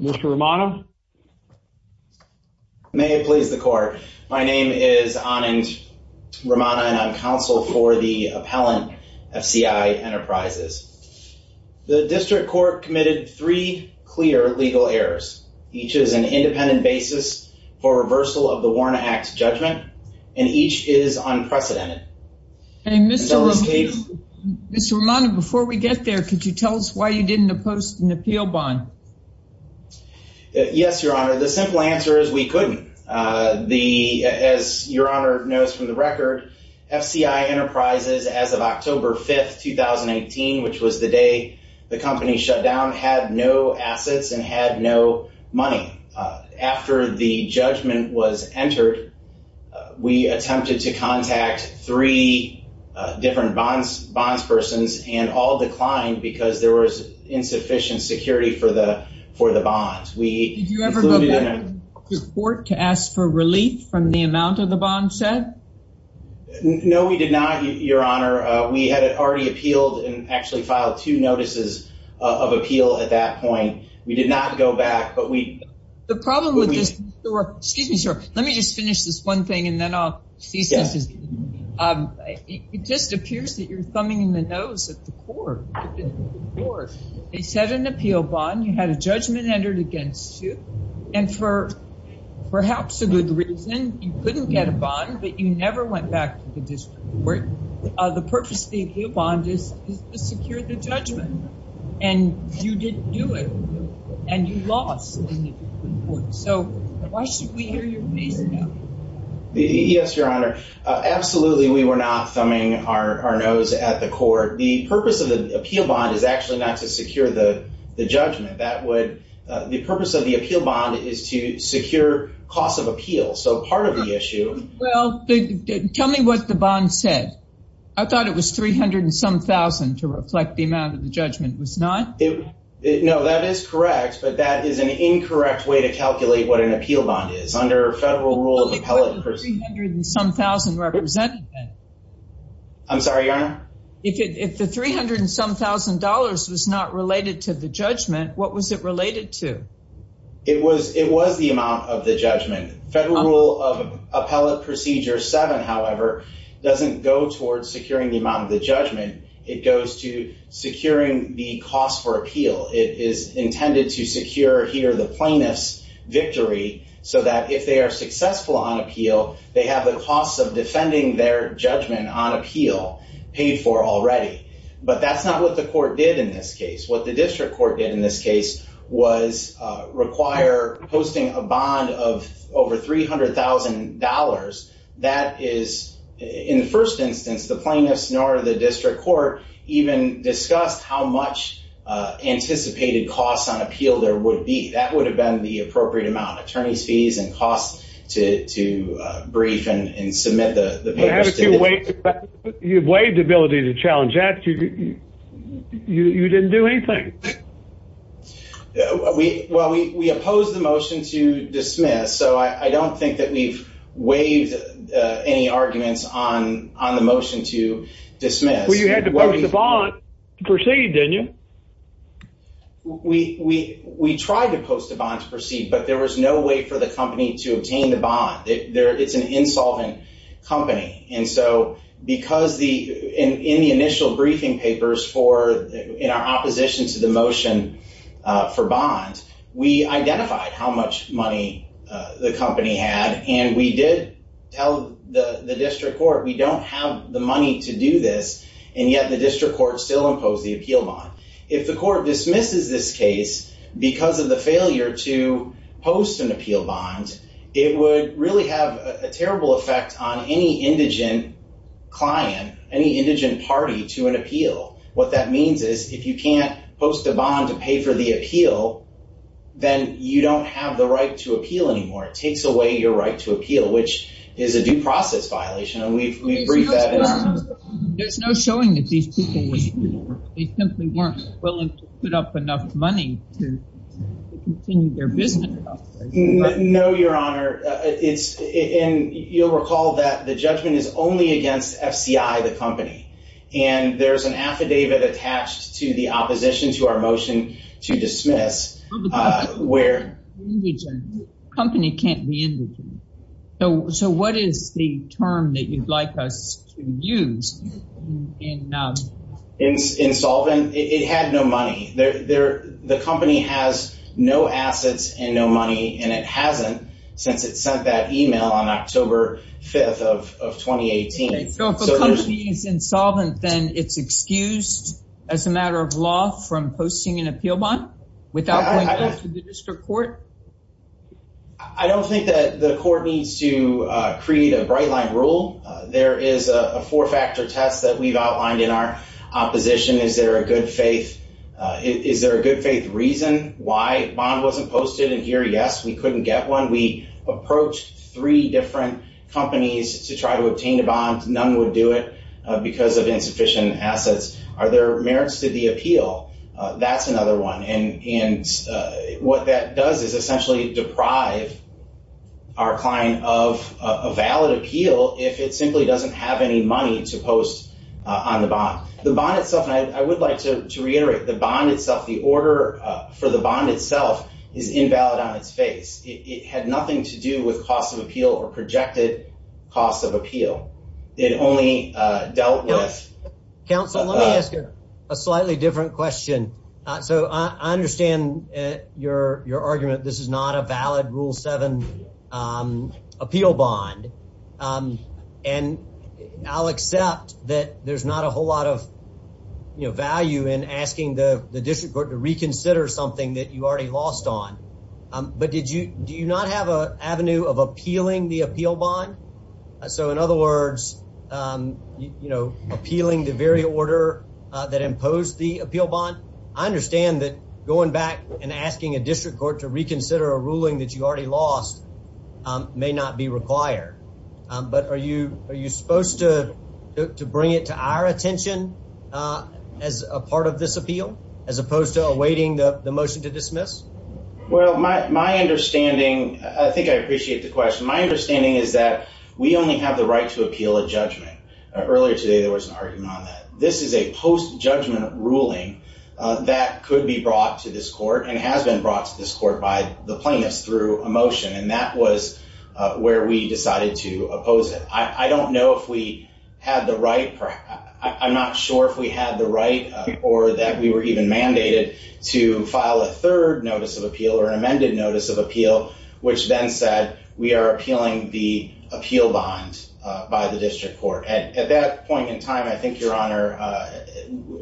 Mr. Romano. May it please the court. My name is Anand Romano and I'm counsel for the appellant FCI Enterprises. The district court committed three clear legal errors. Each is an independent basis for reversal of the Warner Act judgment and each is unprecedented. Mr. Romano, before we get there, could you tell us why you didn't oppose an appeal bond? Yes, Your Honor. The simple answer is we couldn't. As Your Honor knows from the record, FCI Enterprises, as of October 5, 2018, which was the day the company shut down, had no assets and had no money. After the judgment was because there was insufficient security for the for the bonds. Did you ever go back to court to ask for relief from the amount of the bond set? No, we did not, Your Honor. We had already appealed and actually filed two notices of appeal at that point. We did not go back, but we... The problem with this... Excuse me, sir. Let me just finish this one thing and then I'll... It just appears that you're thumbing in the nose at the court. They set an appeal bond. You had a judgment entered against you and for perhaps a good reason, you couldn't get a bond, but you never went back to the district court. The purpose of the appeal bond is to secure the judgment and you didn't do it and you lost. So why should we hear your case now? Yes, Your Honor. Absolutely, we were not thumbing in the nose at the court. The purpose of the appeal bond is actually not to secure the judgment. That would... The purpose of the appeal bond is to secure cost of appeal. So part of the issue... Well, tell me what the bond said. I thought it was 300 and some thousand to reflect the amount of the judgment. It was not? No, that is correct, but that is an incorrect way to calculate what an appeal bond is. Under federal rule, an appellate person... But wasn't 300 and some thousand represented then? I'm sorry, Your Honor? If the 300 and some thousand dollars was not related to the judgment, what was it related to? It was the amount of the judgment. Federal rule of appellate procedure seven, however, doesn't go towards securing the amount of the judgment. It goes to securing the cost for appeal. It is intended to secure here the plaintiff's victory so that if they are successful on appeal, they have the cost of defending their judgment on appeal paid for already. But that's not what the court did in this case. What the district court did in this case was require posting a bond of over $300,000. That is... In the first instance, the plaintiff's nor the district court even discussed how much anticipated costs on appeal there would be. That would have been the appropriate amount. Attorneys' fees and costs to brief and submit the papers. You have waived ability to challenge that. You didn't do anything. Well, we opposed the motion to dismiss, so I don't think that we've waived any arguments on the motion to dismiss. Well, you had to post a bond to proceed, didn't you? We tried to post a bond to proceed, but there was no way for the company to obtain the bond. It's an insolvent company. And so because in the initial briefing papers in our opposition to the motion for bond, we identified how much money the company had and we did tell the district court we don't have the money to do this. And yet the district court still imposed the appeal bond. If the court dismisses this case because of the failure to post an appeal bond, it would really have a terrible effect on any indigent client, any indigent party to an appeal. What that means is if you can't post a bond to pay for the appeal, then you don't have the right to appeal anymore. It takes away your right to appeal, which is a due process violation, and we've briefed that. There's no showing that these people were simply not willing to put up enough money to continue their business. No, Your Honor. You'll recall that the judgment is only against FCI, the company, and there's an affidavit attached to the opposition to our motion to dismiss. Company can't be indigent. So what is the term that you'd like us to use? Insolvent? It had no money. The company has no assets and no money, and it hasn't since it sent that email on October 5th of 2018. So if a company is insolvent, then it's excused as a matter of law from posting an appeal bond without going to the district court? I don't think that the court needs to create a bright line rule. There is a four-factor test that we've outlined in our opposition. Is there a good faith reason why a bond wasn't posted? And here, yes, we couldn't get one. We approached three different companies to try to obtain a bond. None would do it because of insufficient assets. Are there merits to the appeal? That's another one. And what that does is essentially deprive our client of a valid appeal if it simply doesn't have any money to post on the bond. The bond itself, and I would like to reiterate, the bond itself, the order for the bond itself is invalid on its face. It had nothing to do with cost of only dealt with. Counselor, let me ask you a slightly different question. So I understand your argument. This is not a valid Rule 7 appeal bond. And I'll accept that there's not a whole lot of value in asking the district court to reconsider something that you already lost on. But do you not have an avenue of appealing the appeal bond? So in other words, appealing the very order that imposed the appeal bond. I understand that going back and asking a district court to reconsider a ruling that you already lost may not be required. But are you supposed to bring it to our attention as a part of this appeal as opposed to awaiting the motion to dismiss? Well, my understanding, I think I appreciate the question. My understanding is that we only have the right to appeal a judgment. Earlier today, there was an argument on that. This is a post judgment ruling that could be brought to this court and has been brought to this court by the plaintiffs through a motion. And that was where we decided to oppose it. I don't know if we had the right. I'm not sure if we had the right or that we were even mandated to file a third notice of appeal or an amended notice of appeal, which then said we are appealing the appeal bond by the district court. At that point in time, I think your honor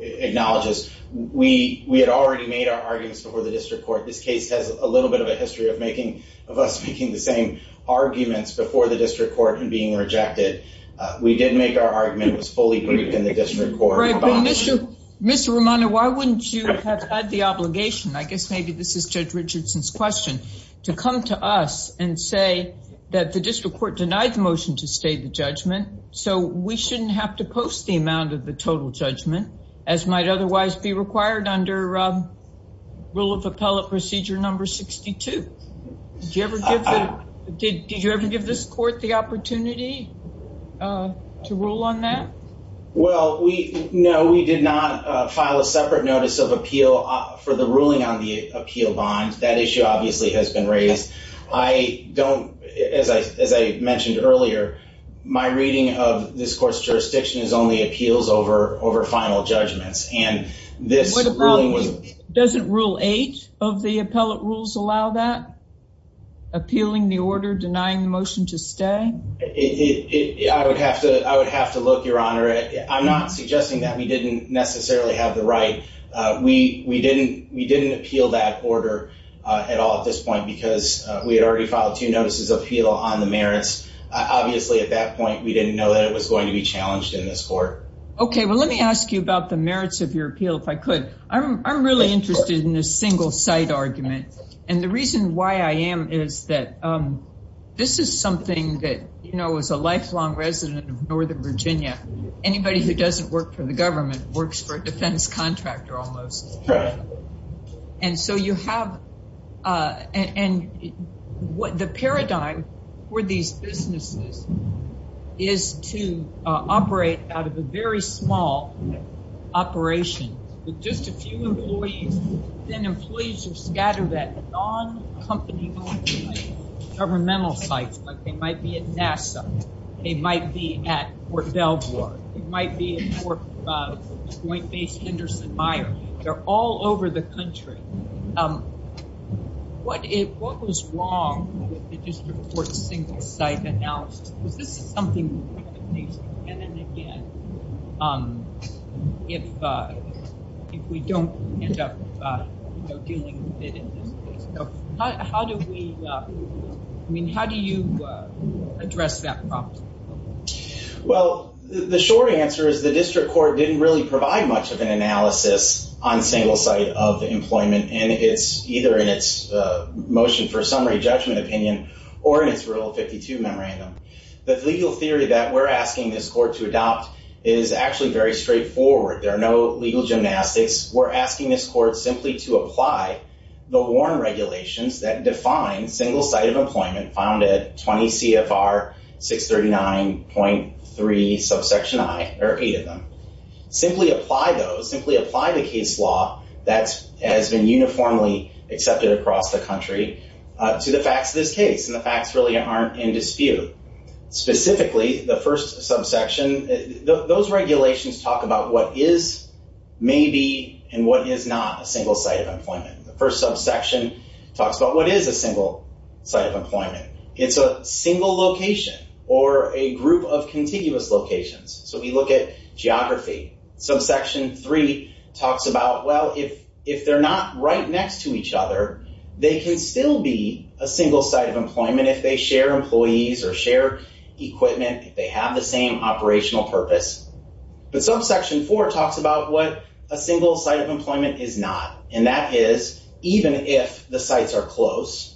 acknowledges we had already made our arguments before the district court. This case has a little bit of a history of us making the same arguments before the district court and being rejected. We did make our argument. It was fully grouped in the district court. Mr. Romano, why wouldn't you have the obligation? I guess maybe this is Judge Richardson's question, to come to us and say that the district court denied the motion to stay the judgment. So we shouldn't have to post the amount of the total judgment as might otherwise be required under rule of appellate procedure number 62. Did you ever give this court the opportunity to rule on that? Well, no, we did not file a for the ruling on the appeal bond. That issue obviously has been raised. As I mentioned earlier, my reading of this court's jurisdiction is only appeals over final judgments. Doesn't rule eight of the appellate rules allow that? Appealing the order, denying the motion to stay? I would have to look, your honor. I'm not suggesting that we didn't necessarily have the we didn't appeal that order at all at this point because we had already filed two notices of appeal on the merits. Obviously, at that point, we didn't know that it was going to be challenged in this court. Okay, well, let me ask you about the merits of your appeal, if I could. I'm really interested in this single site argument. And the reason why I am is that this is something that, you know, as a lifelong resident of Northern Virginia, anybody who doesn't work for the government works for a defense contractor almost. And so you have and what the paradigm for these businesses is to operate out of a very small operation with just a few employees. Then employees are scattered at non-company governmental sites, like they might be at NASA, they might be at Fort Belvoir, it might be at Fort Point Base Henderson-Meyer. They're all over the country. What if, what was wrong with the district court single site analysis? Because this is something again and again, if we don't end up, you know, dealing with it in this case. How do we, I mean, how do you address that problem? Well, the short answer is the district court didn't really provide much of an analysis on single site of employment. And it's either in its motion for summary judgment opinion, or in its Rule 52 memorandum. The legal theory that we're asking this court to adopt is actually very straightforward. There are no legal gymnastics. We're asking this court simply to apply the WARN regulations that define single site of employment found at 20 CFR 639.3 subsection I, there are eight of them. Simply apply those, simply apply the case law that has been uniformly accepted across the country to the facts of this case. And the facts really aren't in dispute. Specifically, the first subsection, those regulations talk about what is, maybe, and what is not a single site of employment. The first subsection talks about what is a single site of employment. It's a single location or a group of contiguous locations. So we look at geography. Subsection III talks about, well, if they're not right next to each other, they can still be a single site of employment if they share employees or share equipment, if they have the same operational purpose. But subsection IV talks about what a single site of employment is not. And that is, even if the sites are close,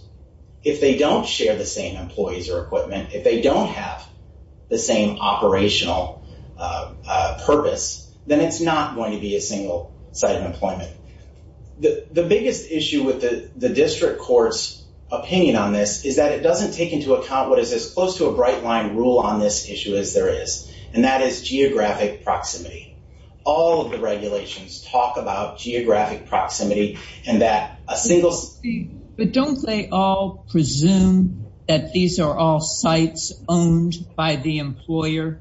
if they don't share the same employees or equipment, if they don't have the same operational purpose, then it's not going to be a single site of employment. The biggest issue with the rule on this issue is there is. And that is geographic proximity. All of the regulations talk about geographic proximity and that a single... But don't they all presume that these are all sites owned by the employer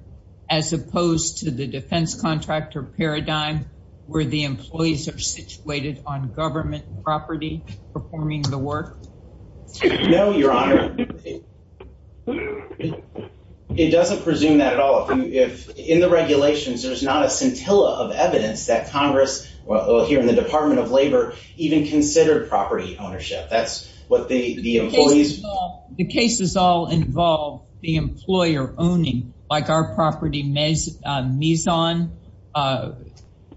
as opposed to the defense contractor paradigm where the employees are situated on government property performing the work? No, Your Honor. It doesn't presume that at all. In the regulations, there's not a scintilla of evidence that Congress, well, here in the Department of Labor, even considered property ownership. That's what the employees... The cases all involve the employer owning, like our property, Mizon,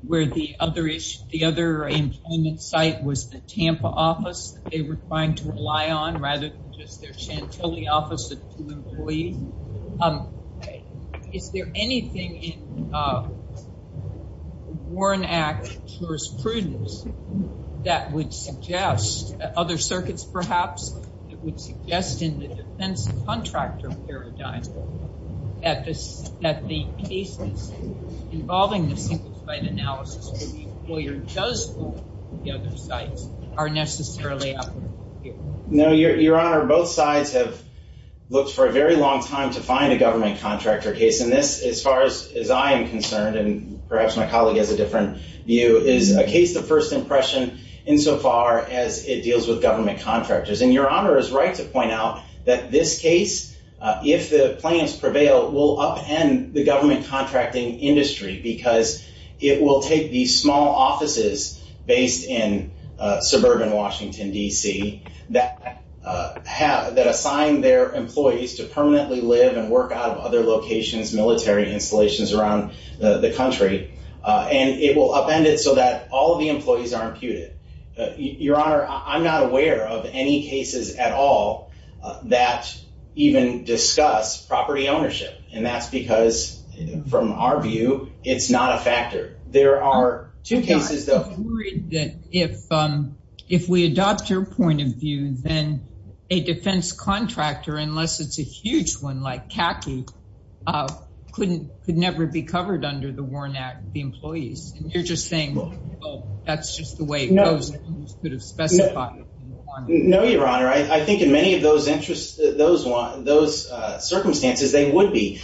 where the other employment site was the Tampa office that just their scintilla office of two employees. Is there anything in Warren Act jurisprudence that would suggest, other circuits perhaps, that would suggest in the defense contractor paradigm that the cases involving the single site analysis where the both sides have looked for a very long time to find a government contractor case. And this, as far as I am concerned, and perhaps my colleague has a different view, is a case of first impression insofar as it deals with government contractors. And Your Honor is right to point out that this case, if the plans prevail, will upend the government contracting industry because it will take these small offices based in suburban Washington, D.C. that assign their employees to permanently live and work out of other locations, military installations around the country, and it will upend it so that all of the employees are imputed. Your Honor, I'm not aware of any cases at all that even discuss property ownership. And that's because, from our view, it's not a factor. There are two cases, though. I'm worried that if we adopt your point of view, then a defense contractor, unless it's a huge one like CACI, could never be covered under the Warren Act, the employees. And you're just saying, well, that's just the way it goes. No, Your Honor. I think in many of those circumstances, they would be.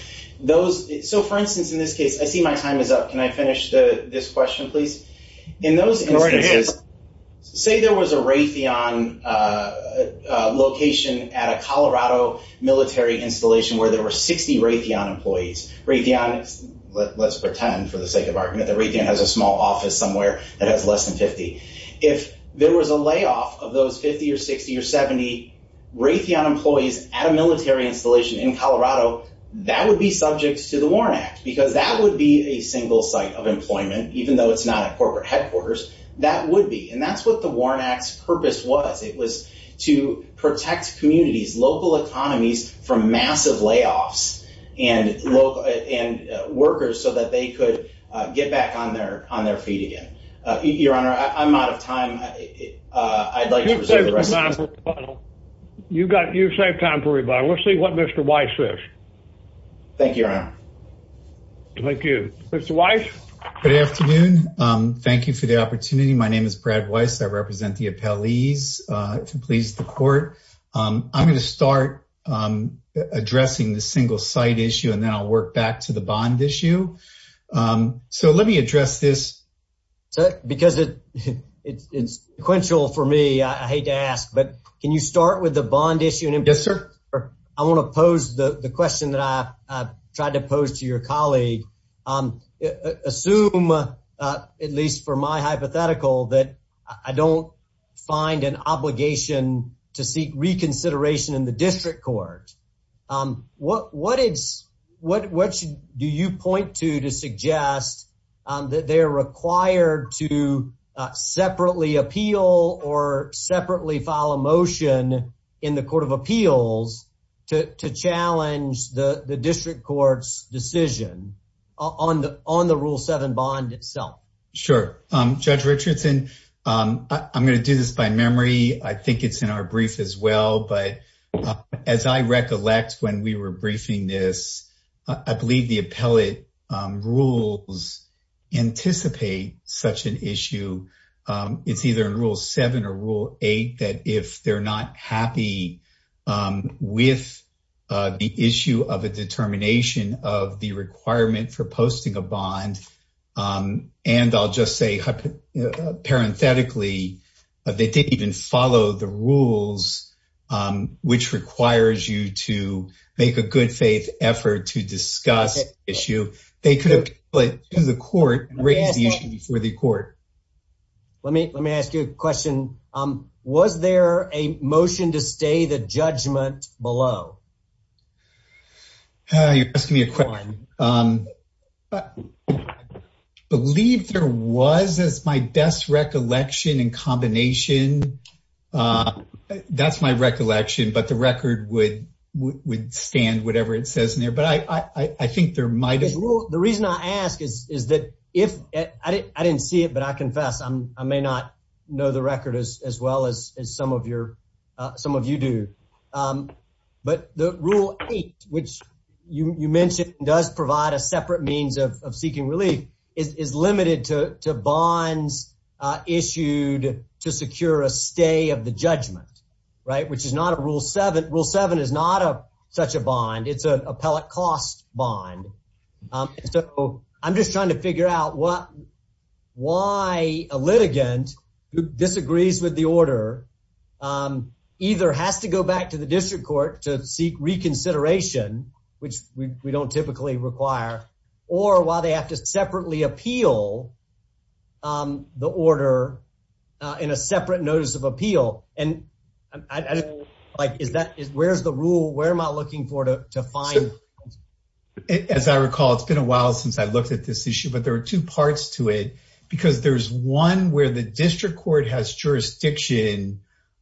So, for instance, in this case, I see my time is up. Can I finish this question, please? In those instances, say there was a Raytheon location at a Colorado military installation where there were 60 Raytheon employees. Raytheon, let's pretend, for the sake of argument, that Raytheon has a small office somewhere that has less than 50. If there was a layoff of those 50 or 60 or 70 Raytheon employees at a military installation in Colorado, that would be subject to the Warren Act because that would be a single site of employment, even though it's not a corporate headquarters. That would be. And that's what the Warren Act's purpose was. It was to protect communities, local economies from massive layoffs and workers so that they could get back on their feet again. Your Honor, I'm out of time. I'd like to reserve the rest of the time. You've saved time for rebuttal. Let's see what Mr. Weiss says. Thank you, Your Honor. Thank you. Mr. Weiss? Good afternoon. Thank you for the opportunity. My name is Brad Weiss. I represent the appellees to please the court. I'm going to start addressing the single site issue, and then I'll work back to the bond issue. So let me address this. Because it's sequential for me, I hate to ask, but can you start with the bond issue? Yes, sir. I want to pose the question that I tried to pose to your colleague. Assume, at least for my hypothetical, that I don't find an obligation to seek reconsideration in the district court. What do you point to to suggest that they are required to separately appeal or separately file a motion in the court of appeals to challenge the district court's decision on the Rule 7 bond itself? Sure. Judge Richardson, I'm going to do this by memory. I think it's in our brief as well. But as I recollect, when we were briefing this, I believe the appellate rules anticipate such an issue. It's either in Rule 7 or Rule 8 that if they're not happy with the issue of a determination of the requirement for posting a bond, they didn't even follow the rules which requires you to make a good faith effort to discuss the issue, they could appeal it to the court and raise the issue before the court. Let me ask you a question. Was there a motion to stay the judgment below? You're asking me a question. I believe there was. That's my best recollection and combination. That's my recollection. But the record would stand whatever it says in there. But I think there might have been. The reason I ask is that if I didn't see it, but I confess, I may not know the record as well as some of you do. But the Rule 8, which you mentioned, does provide a separate means of seeking relief, is limited to bonds issued to secure a stay of the judgment, which is not a Rule 7. Rule 7 is not such a bond. It's an appellate cost bond. So I'm just trying to figure out why a litigant who disagrees with the order either has to go back to the district court to seek reconsideration, which we don't typically require, or why they have to separately appeal the order in a separate notice of appeal. And where's the rule? Where am I looking for to find? As I recall, it's been a while since I looked at this issue, but there are two parts to it. Because there's one where the district court has jurisdiction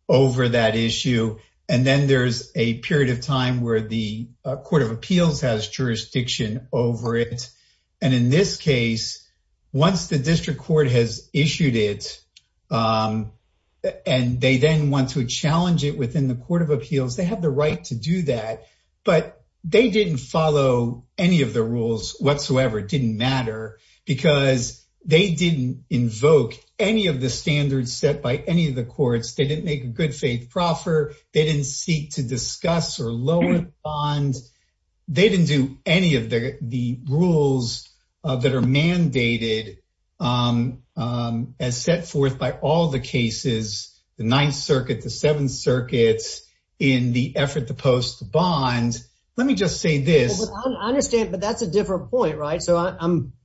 over that issue. And then there's a period of time where the Court of Appeals has jurisdiction over it. And in this case, once the district court has issued it, and they then want to challenge it within the Court of Appeals, they didn't follow any of the rules whatsoever. It didn't matter because they didn't invoke any of the standards set by any of the courts. They didn't make a good faith proffer. They didn't seek to discuss or lower the bond. They didn't do any of the rules that are mandated as set forth by all the cases, the Ninth Circuit, the Seventh Circuit, in the effort to post the bond. Let me just say this. I understand, but that's a different point, right? So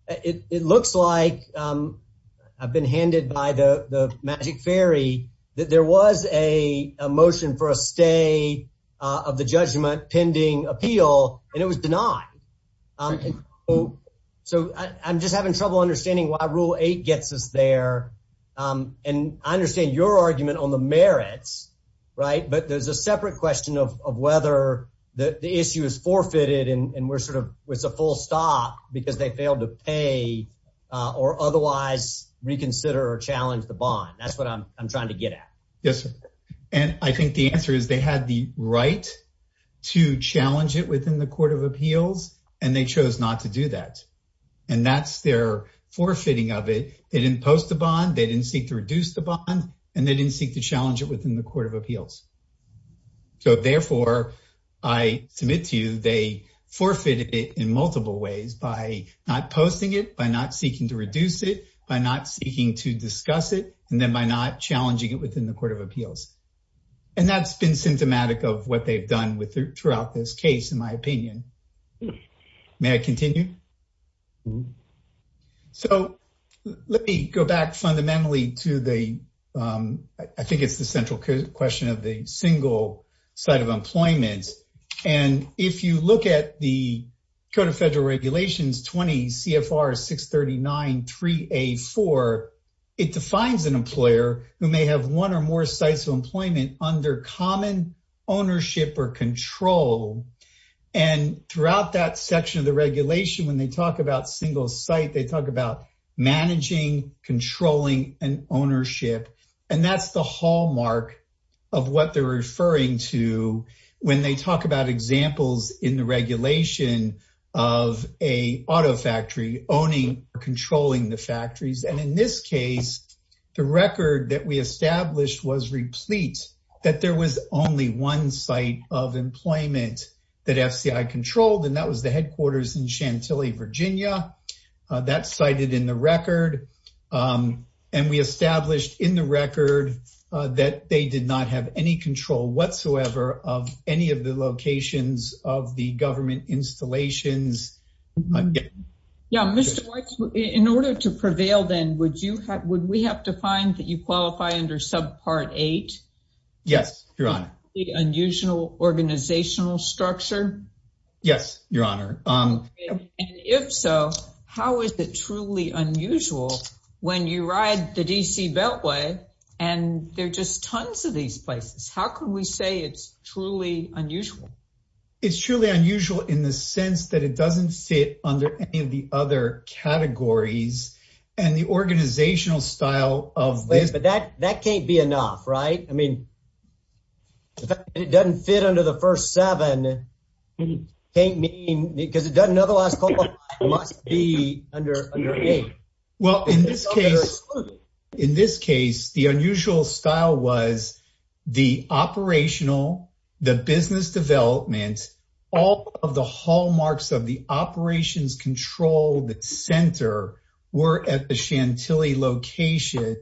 it looks like I've been handed by the magic fairy that there was a motion for a stay of the judgment pending appeal, and it was denied. So I'm just having trouble understanding why Rule 8 gets us there. And I understand your argument on the merits, right? But there's a separate question of whether the issue is forfeited and we're sort of, it's a full stop because they failed to pay or otherwise reconsider or challenge the bond. That's what I'm trying to get at. Yes. And I think the answer is they had the right to challenge it within the Court of Appeals, and they chose not to do that. And that's their forfeiting of it. They didn't post the bond, they didn't seek to reduce the bond, and they didn't seek to challenge it within the Court of Appeals. So therefore, I submit to you, they forfeited it in multiple ways by not posting it, by not seeking to reduce it, by not seeking to discuss it, and then by not challenging it within the Court of Appeals. And that's been symptomatic of what they've done throughout this case, in my opinion. May I continue? So let me go back fundamentally to the, I think it's the central question of the single site of employment. And if you look at the Code of Federal Regulations 20 CFR 639-3A4, it defines an employer who may have one or more employees. And throughout that section of the regulation, when they talk about single site, they talk about managing, controlling, and ownership. And that's the hallmark of what they're referring to when they talk about examples in the regulation of a auto factory owning or controlling the factories. And in this case, the record that we established was replete, that there was only one site of employment that FCI controlled, and that was the headquarters in Chantilly, Virginia. That's cited in the record. And we established in the record that they did not have any control whatsoever of any of the locations of the government installations. Yeah, Mr. Weitz, in order to prevail then, would we have to find that you qualify under subpart 8? Yes, Your Honor. The unusual organizational structure? Yes, Your Honor. And if so, how is it truly unusual when you ride the D.C. Beltway and there are just tons of these places? How can we say it's truly unusual? It's truly unusual in the sense that it doesn't fit under any of the other categories and the organizational style of this. That can't be enough, right? I mean, if it doesn't fit under the first seven, because it doesn't otherwise qualify, it must be under 8. Well, in this case, the unusual style was the operational, the business development, all of the hallmarks of the operations control center were at the Chantilly location.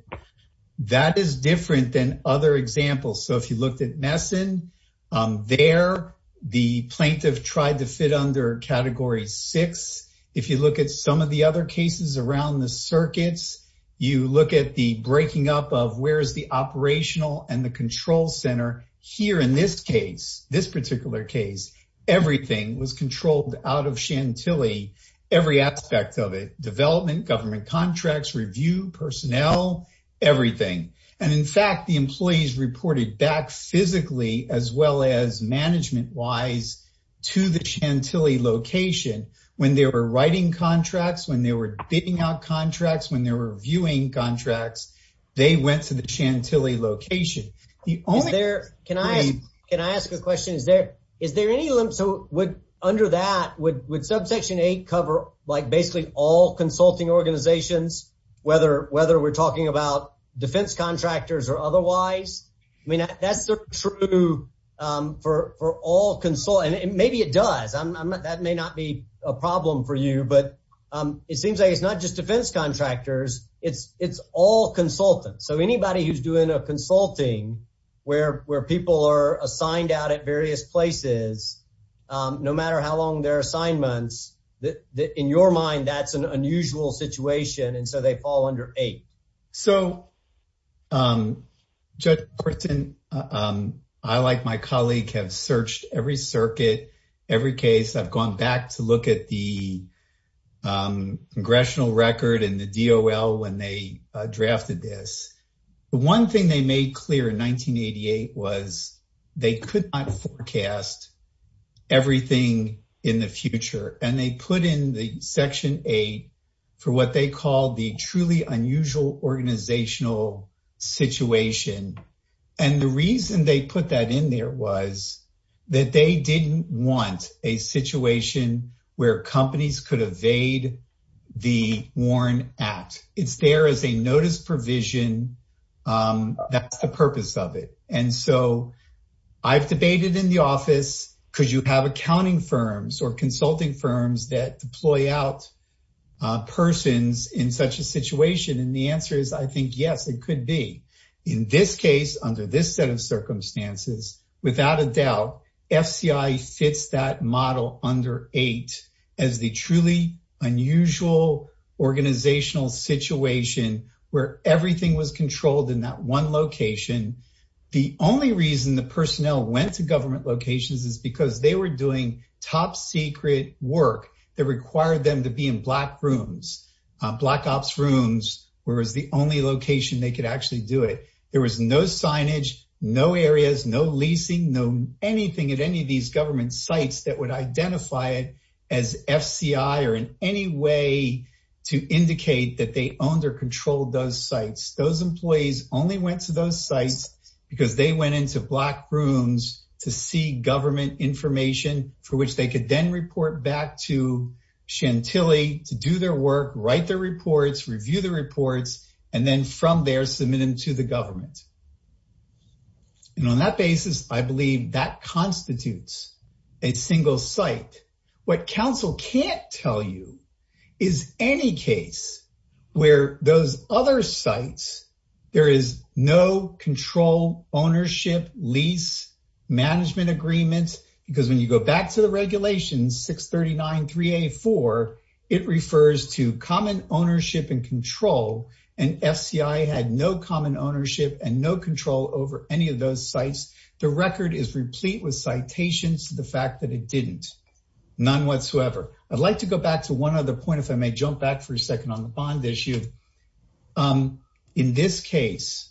That is different than other examples. So, if you looked at Messon, there the plaintiff tried to fit under Category 6. If you look at some of the other cases around the circuits, you look at the breaking up of where is the operational and the control center. Here in this case, this particular case, everything was controlled out of Chantilly, every aspect of it, development, government contracts, review, personnel, everything. And in fact, the employees reported back physically as well as management-wise to the Chantilly location when they were writing contracts, when they were digging out contracts, when they were reviewing contracts, they went to the Chantilly location. Is there, can I, can I ask a question? Is there, is there any, so would, under that, would, would subsection 8 cover like basically all consulting organizations, whether, whether we're talking about defense contractors or otherwise? I mean, that's the true, for, for all consult, and maybe it does, that may not be a problem for you, but it seems like it's not just defense contractors, it's, it's all consultants. So anybody who's doing a consulting where, where people are assigned out at various places, no matter how long their assignments, that, that in your mind, that's an unusual situation, and so they fall under 8. So, Judge Christin, I, like my colleague, have searched every circuit, every case. I've gone back to look at the congressional record and the DOL when they drafted this. The one thing they made clear in 1988 was they could not forecast everything in the future, and they put in the section 8 for what they call the truly unusual organizational situation, and the reason they didn't want a situation where companies could evade the Warren Act. It's there as a notice provision. That's the purpose of it, and so I've debated in the office, could you have accounting firms or consulting firms that deploy out persons in such a situation, and the answer is, I think, circumstances. Without a doubt, FCI fits that model under 8 as the truly unusual organizational situation where everything was controlled in that one location. The only reason the personnel went to government locations is because they were doing top secret work that required them to be in black rooms, black ops rooms, whereas the only location they could actually do it. There was no signage, no areas, no leasing, no anything at any of these government sites that would identify it as FCI or in any way to indicate that they owned or controlled those sites. Those employees only went to those sites because they went into black rooms to see government information for which they could then report back to Chantilly to do their work, write their reports, review the reports, and then from there, submit them to the government, and on that basis, I believe that constitutes a single site. What counsel can't tell you is any case where those other sites, there is no control, ownership, lease, management agreement, because when you go back to the FCI had no common ownership and no control over any of those sites. The record is replete with citations to the fact that it didn't, none whatsoever. I'd like to go back to one other point if I may jump back for a second on the bond issue. In this case,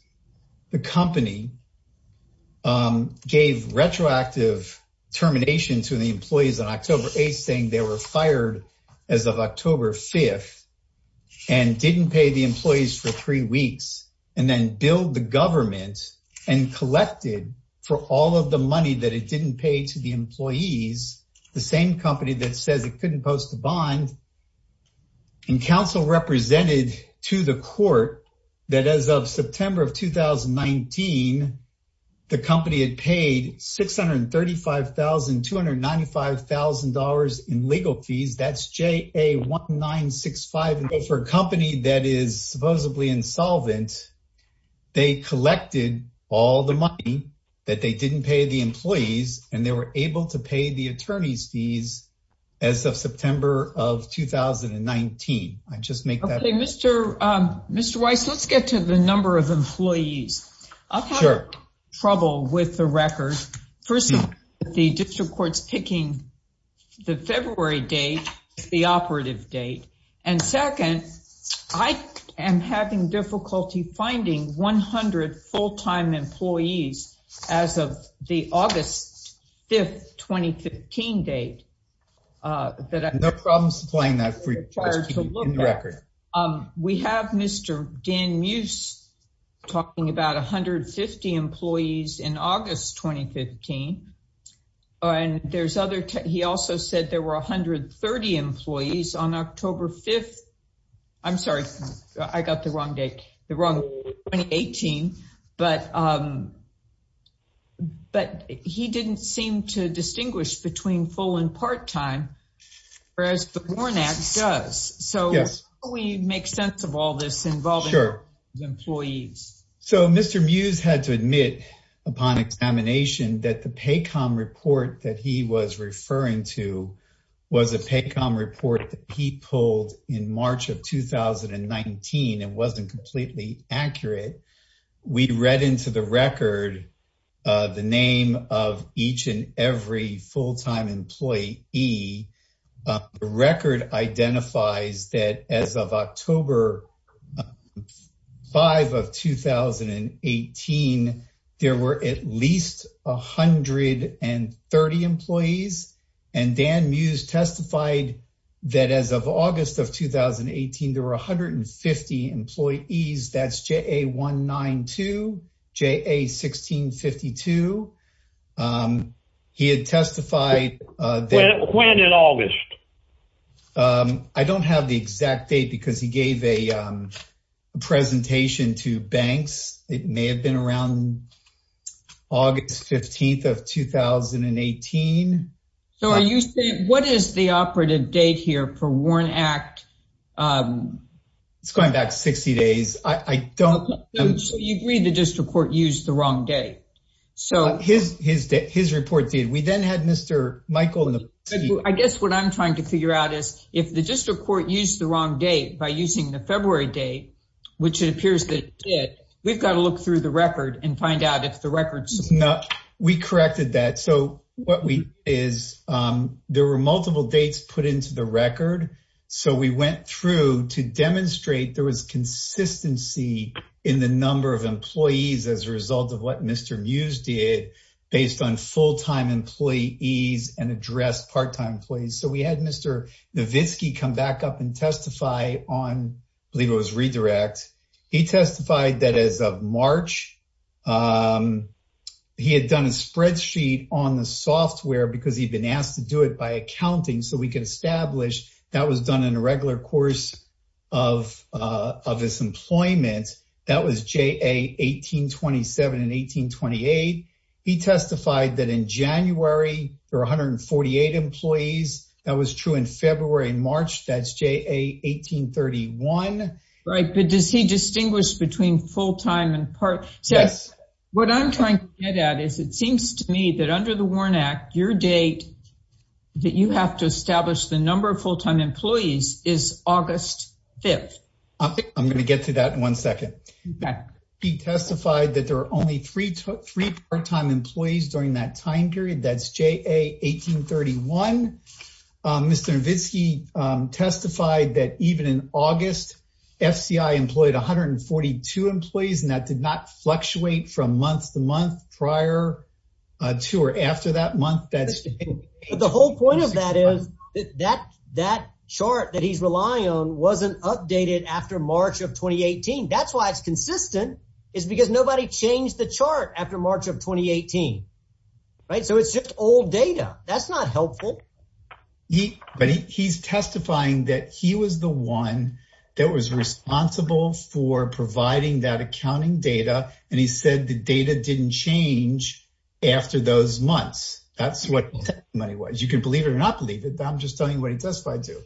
the company gave retroactive termination to the employees on October 8 saying they were fired as of October 5 and didn't pay the employees for three weeks and then billed the government and collected for all of the money that it didn't pay to the employees, the same company that says it couldn't post the bond, and counsel represented to the court that as of September of 2019, the company had paid $635,000, $295,000 in legal fees. That's JA1965. For a company that is supposedly insolvent, they collected all the money that they didn't pay the employees and they were able to pay the attorney's fees as of September of 2019. I just make that point. Okay, Mr. Weiss, let's get to the number of employees. I've had trouble with the record. First of all, the district court's picking the February date, the operative date. And second, I am having difficulty finding 100 full-time employees as of the August 5, 2015 date. No problem supplying that. We have Mr. Dan Muse talking about 150 employees in August 2015. He also said there were 130 employees on October 5. I'm sorry, I got the wrong date, the wrong 2018. But he didn't seem to distinguish between full and part-time, whereas the Borne Act does. So, how do we make sense of all this involving employees? So, Mr. Muse had to admit upon examination that the PACOM report that he was referring to was a PACOM report that he pulled in March of 2019. It wasn't completely accurate. We read into the record the name of each and every full-time employee. The record identifies that as of October 5 of 2018, there were at least 130 employees. And Dan Muse testified that as of August of 2018, there were 150 employees. That's JA192, JA1652. He had testified that- When in August? I don't have the exact date because he gave a presentation to banks. It may have been around August 15 of 2018. So, are you saying, what is the operative date here for Borne Act? It's going back 60 days. I don't- So, you agree the district court used the wrong date? His report did. We then had Mr. Michael- I guess what I'm trying to figure out is, if the district court used the wrong date by using the February date, which it appears that it did, we've got to look through the record and find out if the record- We corrected that. So, there were multiple dates put into the record. So, we went through to demonstrate there was consistency in the number of employees as a result of what Mr. Muse did based on full-time employees and address part-time employees. So, we had Mr. Novitski come back up and testify on, I believe it was redirect. He testified that as of March, he had done a spreadsheet on the software because he'd been asked to do it by accounting so we could of his employment. That was JA 1827 and 1828. He testified that in January, there were 148 employees. That was true in February and March. That's JA 1831. Right, but does he distinguish between full-time and part- So, what I'm trying to get at is, it seems to me that under the Borne Act, your date that you have to establish the number of employees is August 5th. I'm going to get to that in one second. He testified that there were only three part-time employees during that time period. That's JA 1831. Mr. Novitski testified that even in August, FCI employed 142 employees and that did not fluctuate from month to month prior to or after that month. The whole point of that is that chart that he's relying on wasn't updated after March of 2018. That's why it's consistent. It's because nobody changed the chart after March of 2018. Right, so it's just old data. That's not helpful. But he's testifying that he was the one that was responsible for providing that accounting data and he said the data didn't change after those months. That's what money was. You can believe it or not believe it, but I'm just telling you what he testified to.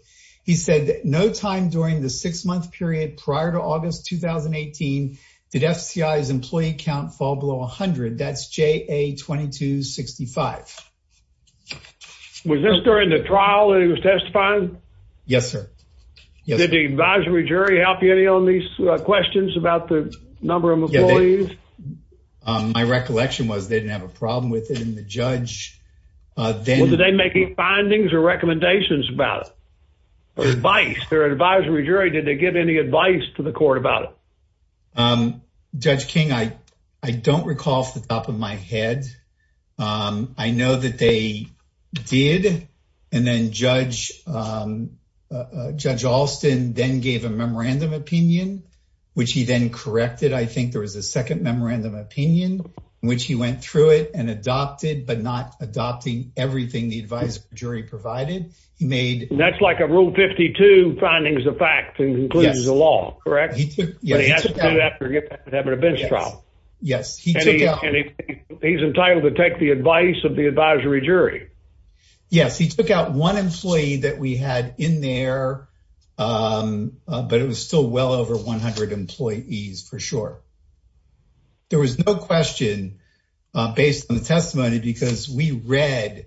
He said that no time during the six-month period prior to August 2018 did FCI's employee count fall below 100. That's JA 2265. Was this during the trial that he was testifying? Yes, sir. Did the advisory jury help you any on these questions about the number of employees? My recollection was they didn't have a problem with it and the judge then... Were they making findings or recommendations about it? Advice? Their advisory jury, did they give any advice to the court about it? Judge King, I don't recall off the top of my head. I know that they did and then Judge Alston then gave a memorandum opinion, which he then corrected. I think there was a second but not adopting everything the advisory jury provided. He made... That's like a rule 52 findings of fact that includes the law, correct? Yes, he took out one employee that we had in there, but it was still well over 100 employees for sure. There was no question based on the because we read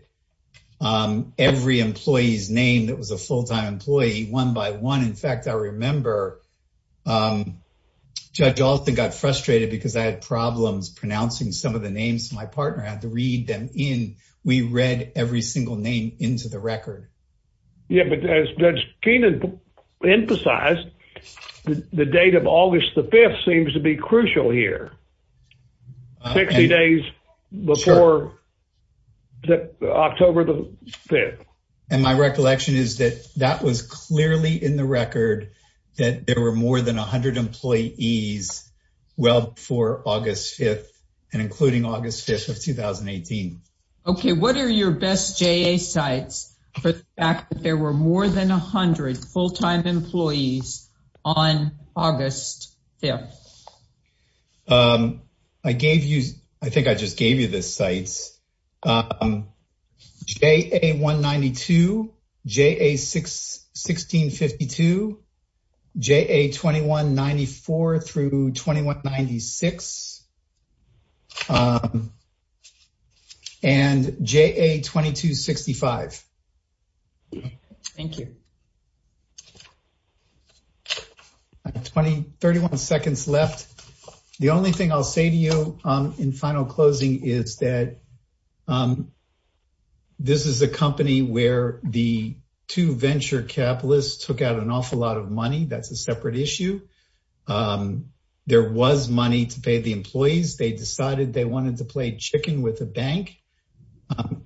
every employee's name that was a full-time employee one by one. In fact, I remember Judge Alston got frustrated because I had problems pronouncing some of the names. My partner had to read them in. We read every single name into the record. Yeah, but as Judge Alston said, it was October the 5th. My recollection is that that was clearly in the record that there were more than 100 employees well before August 5th and including August 5th of 2018. What are your best JA sites for the fact that there were more than 100 full-time employees on August 5th? I gave you... I think I just gave you the sites. JA 192, JA 1652, JA 2194 through 2196 and JA 2265. Thank you. I have 31 seconds left. The only thing I'll say to you in final closing is that this is a company where the two venture capitalists took out an awful lot of money. That's a separate issue. There was money to pay the employees. They decided they wanted to play chicken with the bank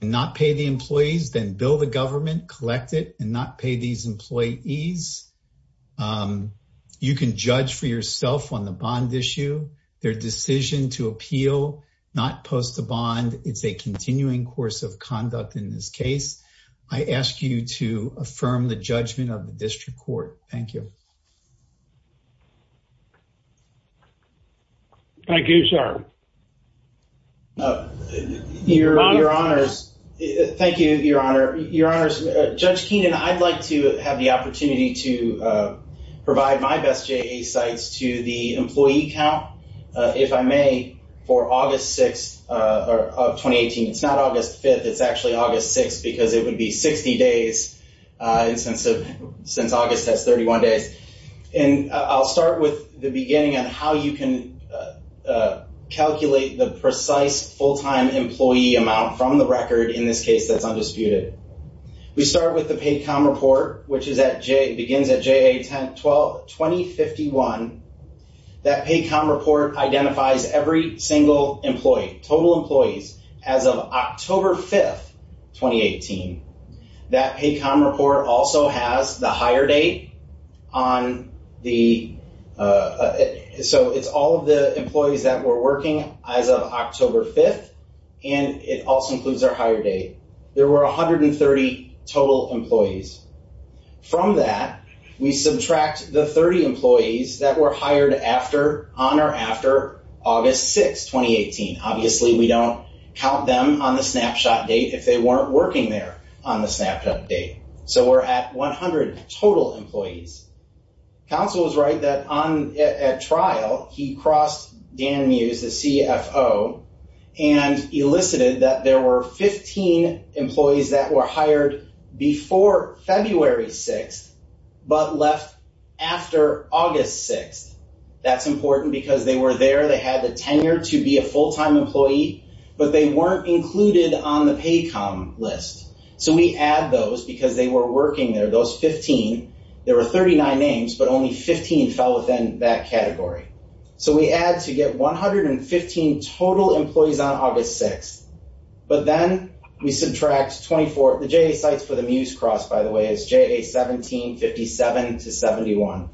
and not pay the employees, then bill the government, collect it, and not pay these employees. You can judge for yourself on the bond issue. Their decision to appeal not post the bond. It's a continuing course of conduct in this case. I ask you to be patient. Thank you, sir. Thank you, Your Honor. Judge Keenan, I'd like to have the opportunity to provide my best JA sites to the employee count, if I may, for August 6th of 2018. It's not August 5th. It's actually August 6th because it would be 60 days since August has 31 days. I'll start with the beginning on how you can calculate the precise full-time employee amount from the record in this case that's undisputed. We start with the PAYCOM report, which begins at JA 10-12-2051. That PAYCOM report identifies every single employee, total employees, as of October 5th, 2018. That PAYCOM report also has the hire date on the, so it's all of the employees that were working as of October 5th, and it also includes their hire date. There were 130 total employees. From that, we subtract the 30 employees that were hired after, on or after, August 6th, 2018. Obviously, we don't count them on the snapshot date if they weren't working there on the snapshot date. So, we're at 100 total employees. Counsel was right that on a trial, he crossed Dan Muse, the CFO, and elicited that there were 15 employees that were hired before February 6th, but left after August 6th. That's important because they were there, they had the tenure to be a full-time employee, but they weren't included on the PAYCOM list. So, we add those because they were working there. Those 15, there were 39 names, but only 15 fell within that category. So, we add to get 115 total employees on August 6th, but then we subtract 24, the JA sites for the Muse cross, by the way, is JA 1757-71.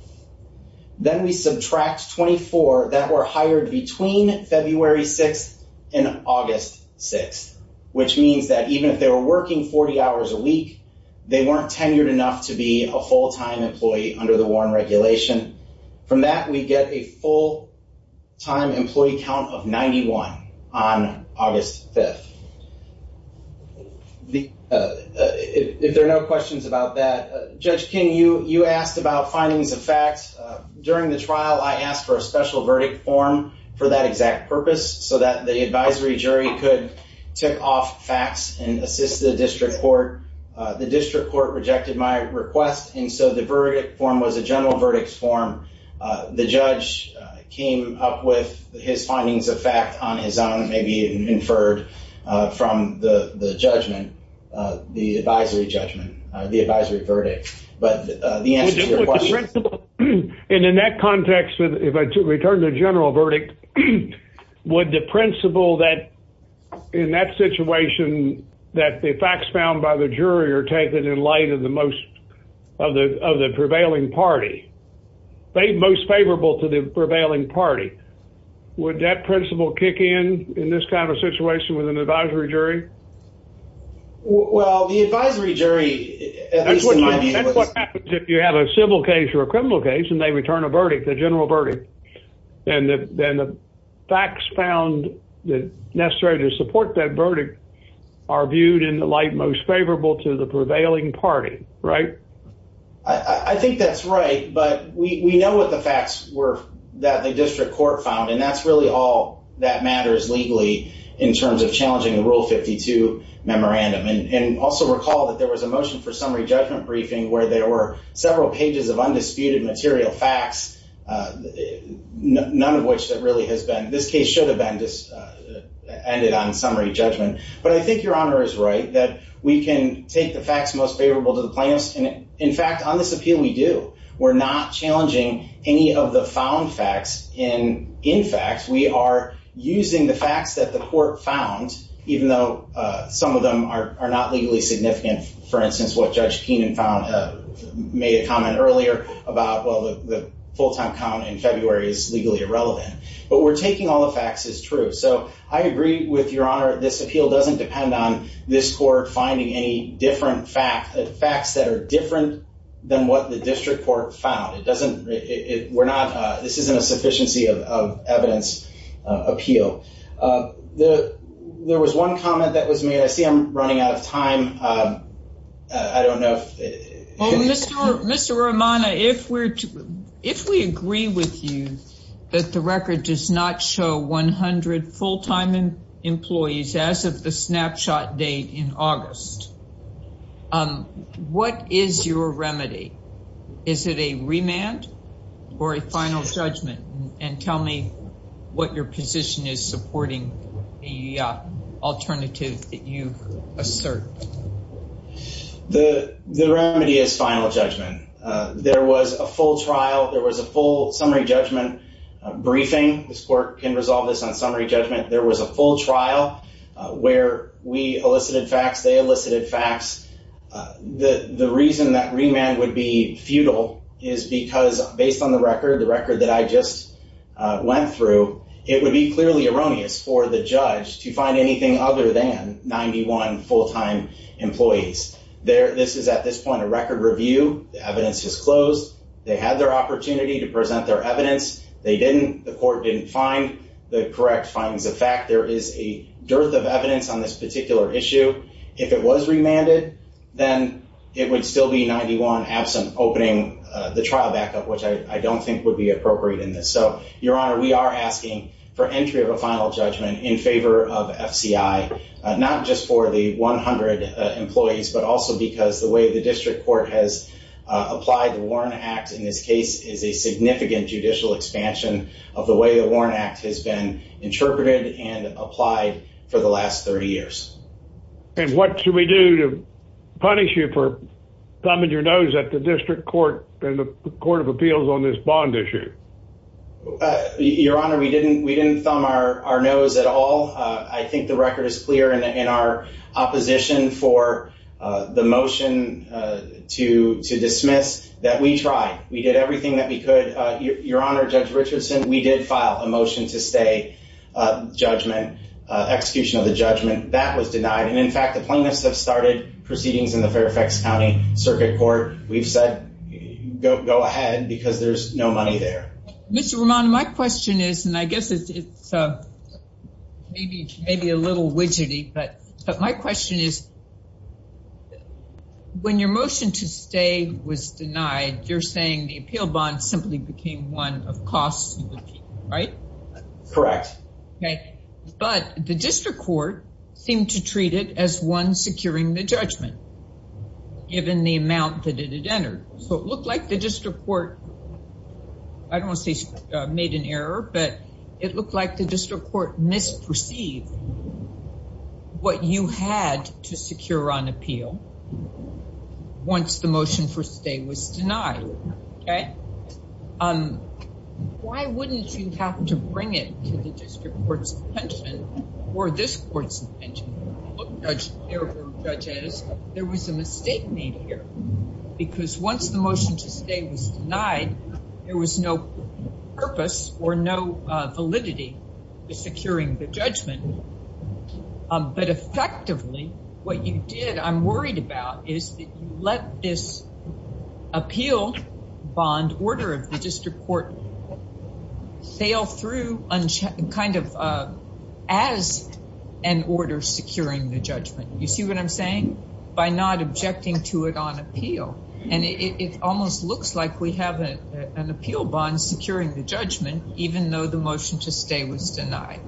Then we subtract 24 that were hired between February 6th and August 6th, which means that even if they were working 40 hours a week, they weren't tenured enough to be a full-time employee under the Warren regulation. From that, we get a full-time employee count of 91 on August 5th. If there are no questions about that, Judge King, you asked about findings of facts. During the trial, I asked for a special verdict form for that exact purpose so that the advisory jury could tick off facts and assist the district court. The district court rejected my request, and so the verdict form was a general verdicts form. The judge came up with his findings of fact on his own, maybe inferred from the judgment, the advisory judgment, the advisory verdict. But the answer to your question... And in that context, if I return to general verdict, would the principle that in that situation that the facts found by the jury are taken in light of the most of the prevailing party, most favorable to the prevailing party, would that principle kick in in this kind of situation with an advisory jury? Well, the advisory jury... That's what happens if you have a civil case or a criminal case, and they return a verdict, the general verdict. And the facts found that necessary to support that verdict are viewed in the light most favorable to the prevailing party. Right? I think that's right, but we know what the facts were that the district court found, and that's really all that matters legally in terms of challenging the Rule 52 memorandum. And also recall that there was a motion for summary judgment briefing where there were several pages of undisputed material facts, none of which that really has been... This case should have been just ended on summary judgment. But I think your honor is right that we can take the facts most favorable to the plaintiffs. And in fact, on this appeal, we do. We're not challenging any of the found facts. And in fact, we are using the facts that the court found, even though some of them are not legally significant. For instance, what Judge Keenan made a comment earlier about, well, the full-time count in February is legally irrelevant. But we're taking all the facts as true. So I agree with your honor, this appeal doesn't depend on this court finding any different facts, facts that are different than what the district court found. It doesn't... We're not... This isn't a sufficiency of evidence appeal. There was one comment that was made. I see I'm running out of time. I don't know if... Well, Mr. Romano, if we're... If we agree with you that the record does not show 100 full-time employees as of the snapshot date in August, what is your remedy? Is it a remand or a final judgment? And tell me what your position is supporting the alternative that you've asserted. The remedy is final judgment. There was a full trial. There was a full summary judgment briefing. This court can resolve this on summary judgment. There was a full trial where we elicited facts, they elicited facts. The reason that remand would be futile is because based on the record, the record that I just went through, it would be clearly erroneous for the judge to find anything other than 91 full-time employees. This is, at this point, a record review. The evidence is closed. They had their opportunity to present their evidence. They didn't. The court didn't find the correct findings of fact. There is a dearth of evidence on this particular issue. If it was remanded, then it would still be 91 absent opening the trial back which I don't think would be appropriate in this. So, Your Honor, we are asking for entry of a final judgment in favor of FCI, not just for the 100 employees, but also because the way the district court has applied the Warren Act in this case is a significant judicial expansion of the way the Warren Act has been interpreted and applied for the last 30 years. And what should we do to punish you for thumbing your nose at the district court and the court of appeals on this bond issue? Your Honor, we didn't thumb our nose at all. I think the record is clear in our opposition for the motion to dismiss that we tried. We did everything that we could. Your Honor, Judge Richardson, we did file a motion to stay judgment, execution of the judgment. That was county circuit court. We've said go ahead because there's no money there. Mr. Romano, my question is, and I guess it's maybe a little widgety, but my question is when your motion to stay was denied, you're saying the appeal bond simply became one of costs, right? Correct. Okay, but the district court seemed to treat it as one securing the judgment. Given the amount that it had entered. So it looked like the district court, I don't want to say made an error, but it looked like the district court misperceived what you had to secure on appeal once the motion for stay was denied. Okay. Why wouldn't you have to bring it to the district court's attention or this court's attention? Judge, there was a mistake made here because once the motion to stay was denied, there was no purpose or no validity to securing the judgment. But effectively, what you did, I'm worried about is that you let this appeal bond order of the district court fail through as an order securing the judgment. You see what I'm saying? By not objecting to it on appeal. And it almost looks like we have an appeal bond securing the judgment, even though the motion to stay was denied.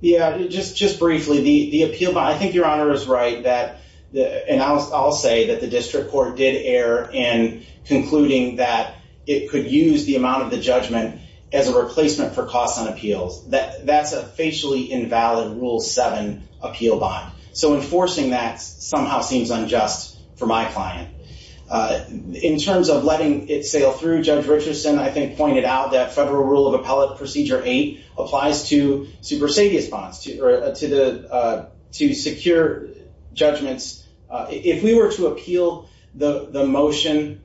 Yeah, just briefly, the appeal bond, I think your honor is right. And I'll say that the district court did err in concluding that it could use the amount of the judgment as a replacement for costs on appeals. That's a facially invalid rule seven appeal bond. So enforcing that somehow seems unjust for my client. In terms of letting it sail through, Judge Richardson, I think pointed out that federal rule of appellate procedure eight applies to supersedious bonds, to secure judgments. If we were to appeal the motion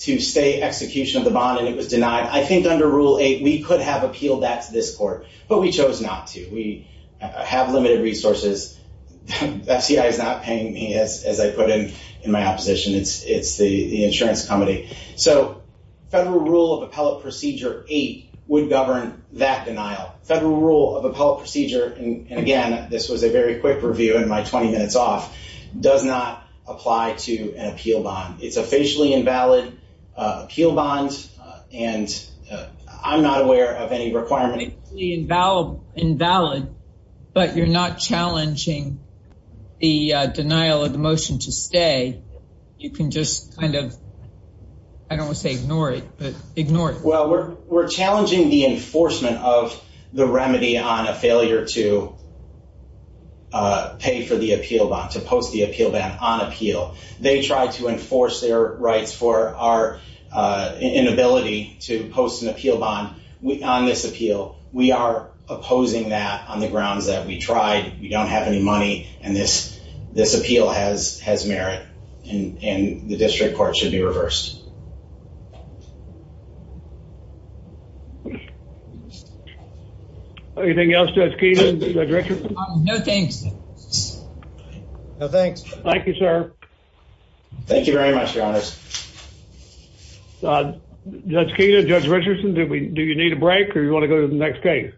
to stay execution of the bond and it was denied, I think under rule eight, we could have appealed that to this court. But we chose not to. We have limited resources. FCI is not paying me as I put in in my opposition. It's the insurance company. So federal rule of appellate procedure eight would govern that denial. Federal rule of appellate procedure, and again, this was a very quick review in my 20 minutes off, does not apply to an appeal bond. It's a facially invalid appeal bond. And I'm not aware of any requirement. Invalid, but you're not challenging the denial of the motion to stay. You can just kind of, I don't want to say ignore it, but you're not challenging the enforcement of the remedy on a failure to pay for the appeal bond, to post the appeal bond on appeal. They tried to enforce their rights for our inability to post an appeal bond on this appeal. We are opposing that on the grounds that we tried, we don't have any money, and this appeal has merit, and the district court should be reversed. Anything else, Judge Keenan, Judge Richardson? No, thanks. No, thanks. Thank you, sir. Thank you very much, your honors. Judge Keenan, Judge Richardson, do we do you need a break or you want to go to the next case?